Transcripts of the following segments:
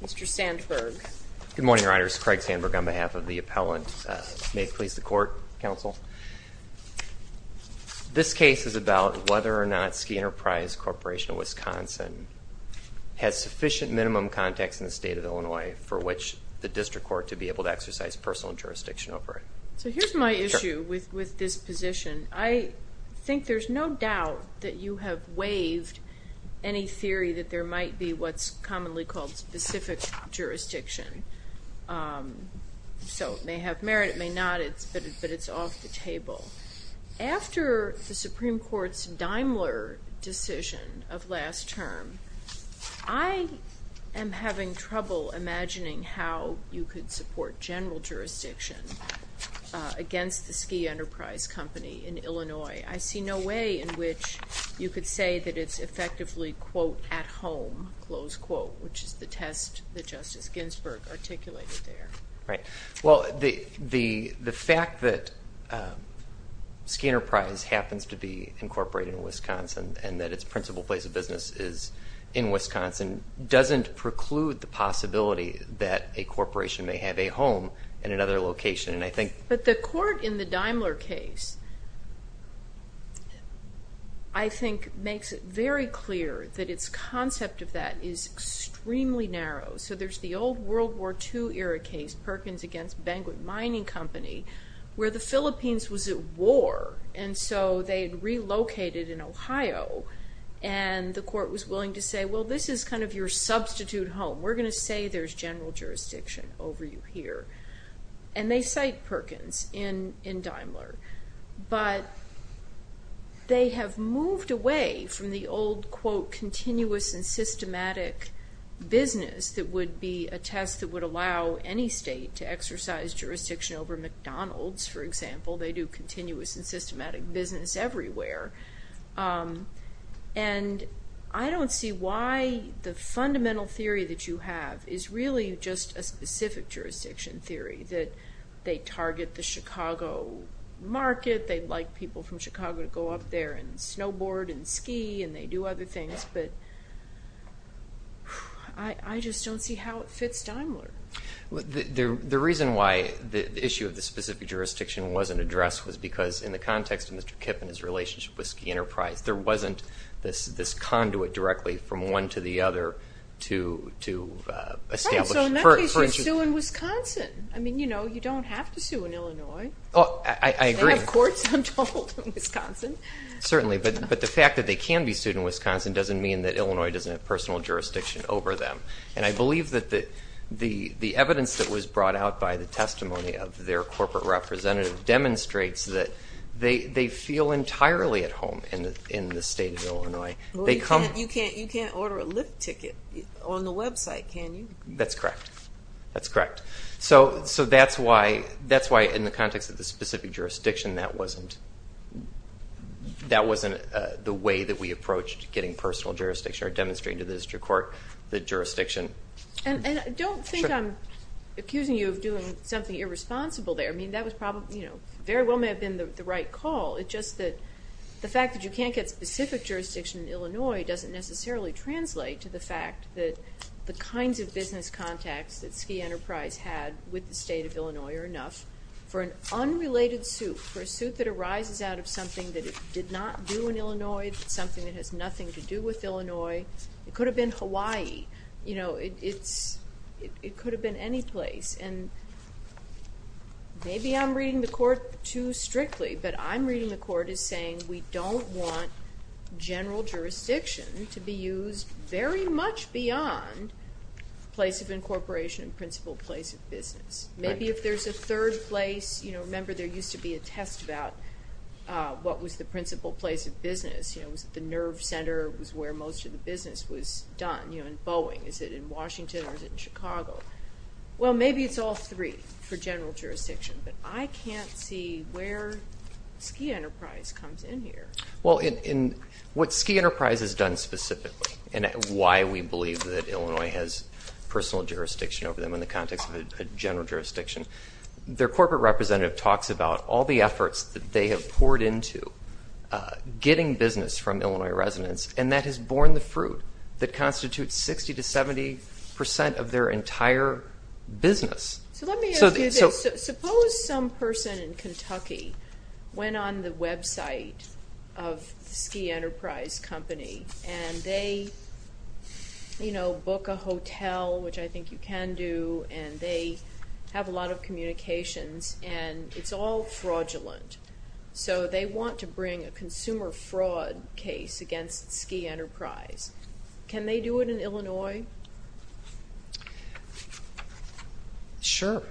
Mr. Sandberg. Good morning, your honors. Craig Sandberg on behalf of the appellant. May it please the court, counsel. This case is about whether or not Ski Enterprise Corporation of Wisconsin has sufficient minimum context in the state of Illinois for which the district court to be able to exercise personal jurisdiction over it. So here's my issue with this position. I think there's no doubt that you have waived any theory that there might be what's commonly called specific jurisdiction. So it may have merit, it may not, but it's off the table. After the Supreme Court's Daimler decision of last term, I am having trouble imagining how you could support general jurisdiction against the Ski Enterprise Company in Illinois. I see no way in which you could say that it's effectively, quote, at home, close quote, which is the test that Justice Ginsburg articulated there. Right, well the fact that Ski Enterprise happens to be incorporated in Wisconsin and that its principal place of business is in Wisconsin doesn't preclude the possibility that a corporation may have a home in another location and I think... But the court in the Daimler case, I think makes it very clear that its concept of that is extremely narrow. So there's the old World War II era case, Perkins against Banquet Mining Company, where the Philippines was at war and so they had relocated in Ohio and the court was willing to say, well this is kind of your substitute home. We're gonna say there's general jurisdiction over you here. And they cite Perkins in Daimler, but they have moved away from the old, quote, continuous and systematic business that would be a test that would allow any state to exercise jurisdiction over McDonald's, for example. They do continuous and systematic business everywhere and I don't see why the fundamental theory that you have is really just a specific jurisdiction theory that they target the Chicago market, they'd like people from Chicago to go up there and snowboard and ski and they do other things, but I just don't see how it fits Daimler. The reason why the issue of the specific jurisdiction wasn't addressed was because in the context of Mr. Kipp and his relationship with Ski Enterprise, there wasn't this this conduit directly from one to the other to establish... Right, so in that case you're suing Wisconsin. I mean, you know, you don't have to sue in Illinois. Oh, I agree. They have courts, I'm told, in Wisconsin. Certainly, but the fact that they can be sued in Wisconsin doesn't mean that Illinois doesn't have personal jurisdiction over them. And I believe that the evidence that was brought out by the testimony of their corporate representative demonstrates that they feel entirely at home in the state of Illinois. You can't order a Lyft ticket on the website, can you? That's correct, that's correct. So that's why in the context of the specific jurisdiction that wasn't the way that we approached getting personal jurisdiction or demonstrating to the district court the jurisdiction. And I don't think I'm accusing you of doing something irresponsible there. I mean, that was probably, you know, very well may have been the right call. It's just that the fact that you can't get specific jurisdiction in Illinois doesn't necessarily translate to the fact that the kinds of business contacts that Ski Enterprise had with the state of Illinois are enough for an unrelated suit, for a suit that arises out of something that it did not do in Illinois, something that has nothing to do with Illinois. It could have been Hawaii, you know, it could have been any place. And maybe I'm reading the court too strictly, but I'm reading the court as saying we don't want general jurisdiction to be used very much beyond place of incorporation and principal place of business. Maybe if there's a third place, you know, remember there used to be a test about what was the principal place of business, you know, was the nerve center was where most of the business was done, you know, in Boeing. Is it in Washington or is it in Chicago? Well, maybe it's all three for general jurisdiction, but I can't see where Ski Enterprise comes in here. Well, in what Ski Enterprise has done specifically and why we believe that Illinois has personal jurisdiction over them in the context of a general jurisdiction, their corporate representative talks about all the efforts that they have poured into getting business from Illinois residents and that has borne the fruit that constitutes 60 to 70 percent of their entire business. So let me ask you this, suppose some person in Kentucky went on the website of Ski Enterprise company and they, you know, sell, which I think you can do, and they have a lot of communications and it's all fraudulent. So they want to bring a consumer fraud case against Ski Enterprise. Can they do it in Illinois? Sure,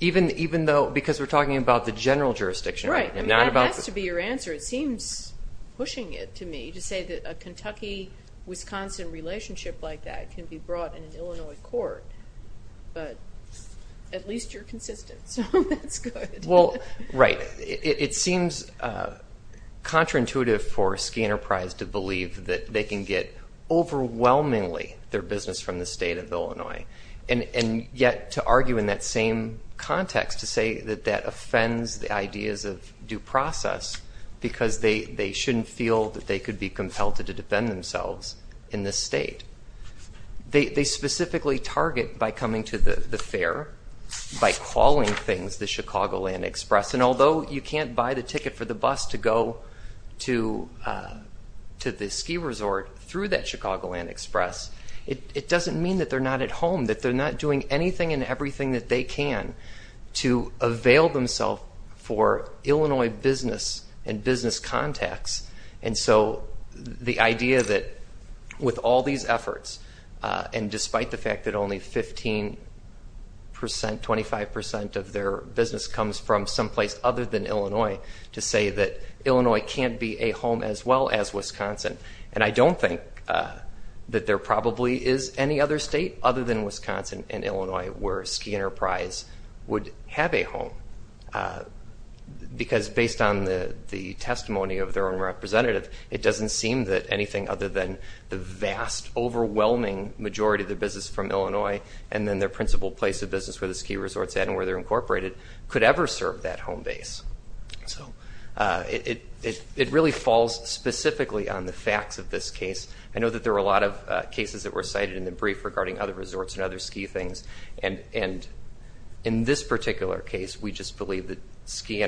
even though because we're talking about the general jurisdiction. Right, that has to be your answer. It seems pushing it to me to say that a Kentucky-Wisconsin relationship like that can be brought in an Illinois court, but at least you're consistent, so that's good. Well, right, it seems counterintuitive for Ski Enterprise to believe that they can get overwhelmingly their business from the state of Illinois. And yet to argue in that same context to say that that offends the ideas of due process, because they shouldn't feel that they could be compelled to defend themselves in this state. They specifically target by coming to the fair, by calling things the Chicagoland Express, and although you can't buy the ticket for the bus to go to the ski resort through that Chicagoland Express, it doesn't mean that they're not at home, that they're not doing anything and everything that they can to avail themselves for Illinois business and business contacts. And so the idea that with all these efforts, and despite the fact that only 15%, 25% of their business comes from someplace other than Illinois, to say that Illinois can't be a home as well as Wisconsin. And I don't think that there probably is any other state other than Wisconsin and based on the testimony of their own representative, it doesn't seem that anything other than the vast overwhelming majority of their business from Illinois and then their principal place of business where the ski resorts at and where they're incorporated could ever serve that home base. So it really falls specifically on the facts of this case. I know that there were a lot of cases that were cited in the brief regarding other resorts and other ski things, and in this case, the state of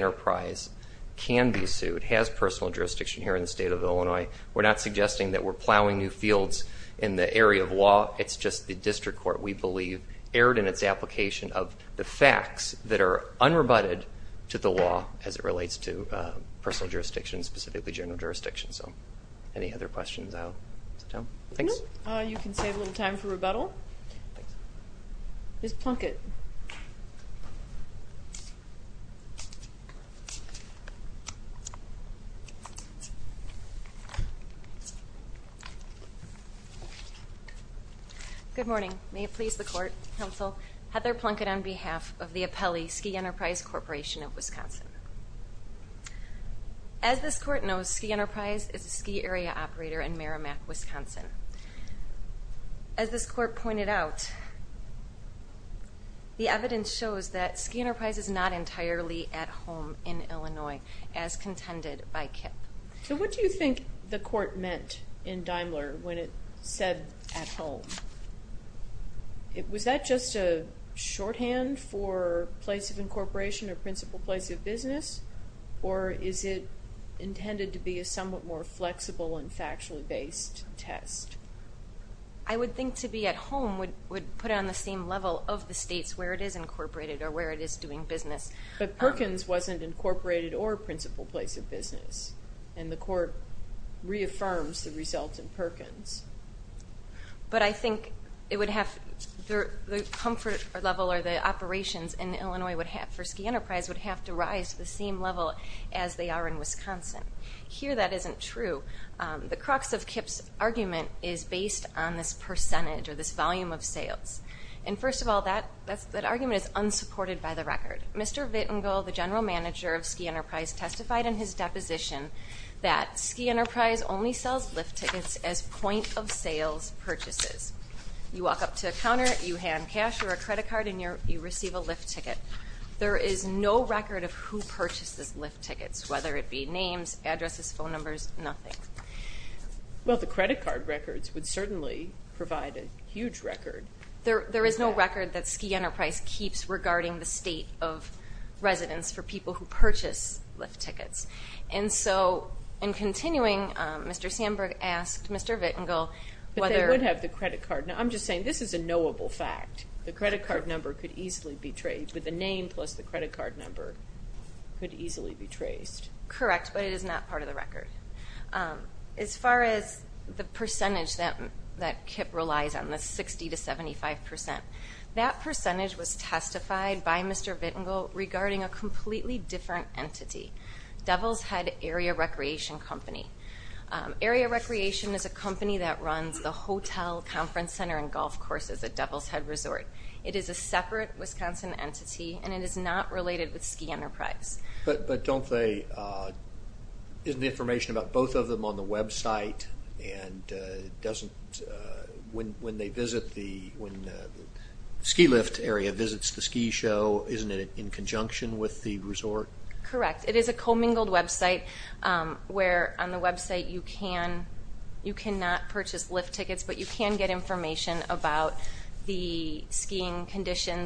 Illinois can be sued, has personal jurisdiction here in the state of Illinois. We're not suggesting that we're plowing new fields in the area of law, it's just the district court, we believe, erred in its application of the facts that are unrebutted to the law as it relates to personal jurisdiction, specifically general jurisdiction. So any other questions I'll sit down. Thanks. You can save a little time for rebuttal. Please plunk it. Good morning. May it please the court, counsel, Heather Plunkett on behalf of the Apelli Ski Enterprise Corporation of Wisconsin. As this court knows, Ski Enterprise is a ski area operator in Merrimack, Wisconsin. As this court pointed out, the evidence shows that Ski Enterprise is not entirely at home in Illinois. So what do you think the court meant in Daimler when it said at home? Was that just a shorthand for place of incorporation or principal place of business, or is it intended to be a somewhat more flexible and factually based test? I would think to be at home would put it on the same level of the states where it is incorporated or where it is doing business. But Perkins wasn't incorporated or principal place of business, and the court reaffirms the result in Perkins. But I think it would have, the comfort level or the operations in Illinois for Ski Enterprise would have to rise to the same level as they are in Wisconsin. Here that isn't true. The crux of Kip's argument is based on this percentage or this volume of sales. And first of all, that argument is unsupported by the record. Mr. Vittingal, the general manager of Ski Enterprise, testified in his deposition that Ski Enterprise only sells lift tickets as point of sales purchases. You walk up to a counter, you hand cash or a credit card, and you receive a lift ticket. There is no record of who purchases lift tickets, whether it be names, addresses, phone numbers, nothing. Well, the credit card records would certainly provide a huge record. There is no record that Ski Enterprise keeps regarding the state of residence for people who purchase lift tickets. And so, in continuing, Mr. Sandberg asked Mr. Vittingal whether- The name plus the credit card number could easily be traced. Correct, but it is not part of the record. As far as the percentage that Kip relies on, the 60 to 75 percent, that percentage was testified by Mr. Vittingal regarding a completely different entity, Devil's Head Area Recreation Company. Area Recreation is a company that runs the hotel, conference center, and golf courses at Devil's Head Resort. It is a separate Wisconsin entity, and it is not related with Ski Enterprise. But don't they- isn't the information about both of them on the website? And doesn't- when they visit the- when the ski lift area visits the ski show, isn't it in conjunction with the resort? Correct. It is a commingled website, where on the website you can-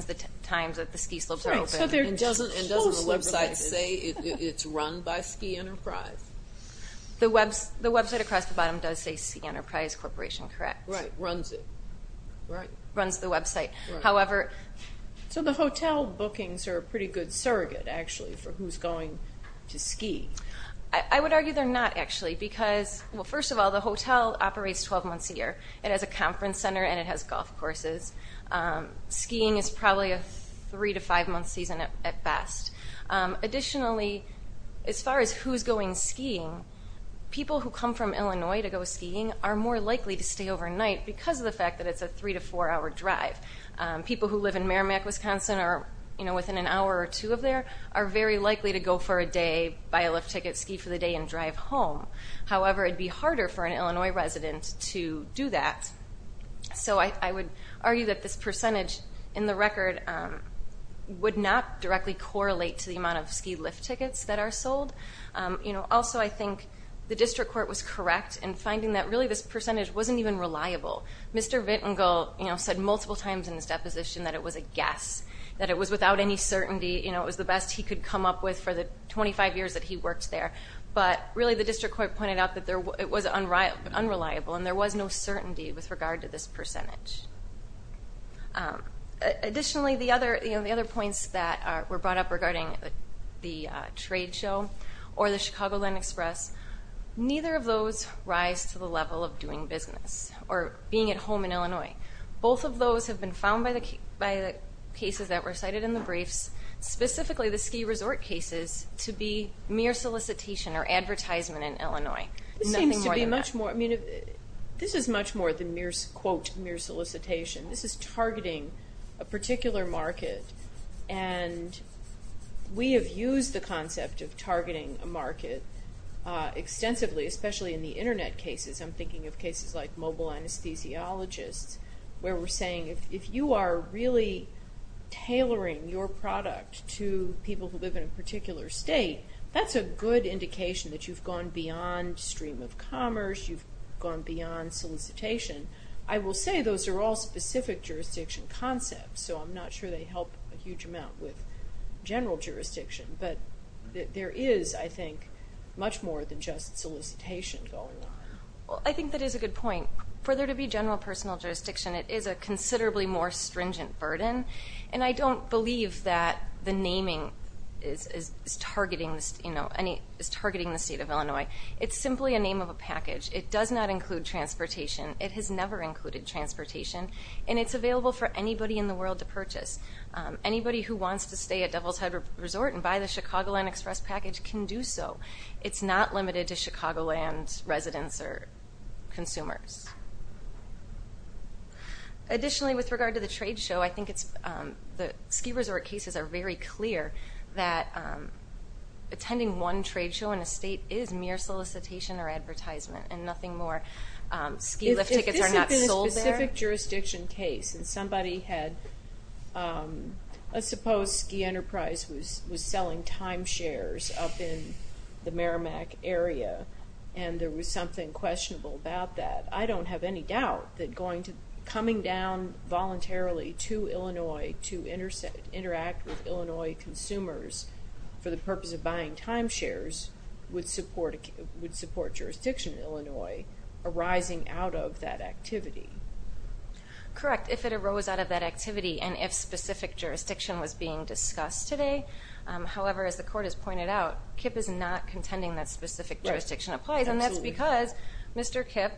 the times that the ski slopes are open. And doesn't the website say it's run by Ski Enterprise? The website across the bottom does say Ski Enterprise Corporation, correct. Right, runs it. Runs the website. However- So the hotel bookings are a pretty good surrogate, actually, for who's going to ski. I would argue they're not, actually, because- well, first of all, the hotel operates 12 months a year. It has a conference center, and it has golf courses. Skiing is probably a three- to five-month season at best. Additionally, as far as who's going skiing, people who come from Illinois to go skiing are more likely to stay overnight because of the fact that it's a three- to four-hour drive. People who live in Merrimack, Wisconsin, or, you know, within an hour or two of there, are very likely to go for a day, buy a lift ticket, ski for the day, and drive home. However, it would be harder for an Illinois resident to do that. So I would argue that this percentage in the record would not directly correlate to the amount of ski lift tickets that are sold. Also, I think the district court was correct in finding that, really, this percentage wasn't even reliable. Mr. Vittingal said multiple times in his deposition that it was a guess, that it was without any certainty. It was the best he could come up with for the 25 years that he worked there. But, really, the district court pointed out that it was unreliable, and there was no certainty with regard to this percentage. Additionally, the other points that were brought up regarding the trade show or the Chicagoland Express, neither of those rise to the level of doing business or being at home in Illinois. Both of those have been found by the cases that were cited in the briefs, specifically the ski resort cases, to be mere solicitation or advertisement in Illinois. Nothing more than that. This is much more than, quote, mere solicitation. This is targeting a particular market, and we have used the concept of targeting a market extensively, especially in the Internet cases. I'm thinking of cases like mobile anesthesiologists, where we're saying, if you are really tailoring your product to people who live in a particular state, that's a good indication that you've gone beyond stream of commerce, you've gone beyond solicitation. I will say those are all specific jurisdiction concepts, so I'm not sure they help a huge amount with general jurisdiction. But there is, I think, much more than just solicitation going on. Well, I think that is a good point. For there to be general personal jurisdiction, it is a considerably more stringent burden, and I don't believe that the naming is targeting the state of Illinois. It's simply a name of a package. It does not include transportation. It has never included transportation, and it's available for anybody in the world to purchase. Anybody who wants to stay at Devil's Head Resort and buy the Chicagoland Express package can do so. It's not limited to Chicagoland residents or consumers. Additionally, with regard to the trade show, I think the ski resort cases are very clear that attending one trade show in a state is mere solicitation or advertisement and nothing more. Ski lift tickets are not sold there. In a specific jurisdiction case, and somebody had, let's suppose Ski Enterprise was selling timeshares up in the Merrimack area, and there was something questionable about that, I don't have any doubt that coming down voluntarily to Illinois to interact with Illinois consumers for the purpose of buying timeshares would support jurisdiction in Illinois arising out of that activity. Correct, if it arose out of that activity and if specific jurisdiction was being discussed today. However, as the court has pointed out, KIPP is not contending that specific jurisdiction applies, and that's because Mr. KIPP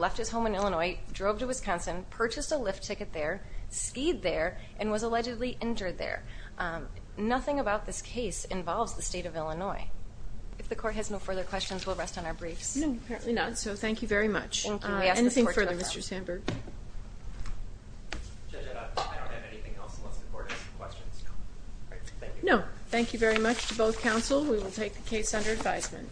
left his home in Illinois, drove to Wisconsin, purchased a lift ticket there, skied there, and was allegedly injured there. Nothing about this case involves the state of Illinois. If the court has no further questions, we'll rest on our briefs. No, apparently not, so thank you very much. Anything further, Mr. Sandberg? Judge, I don't have anything else unless the court has some questions. No, thank you very much to both counsel. We will take the case under advisement.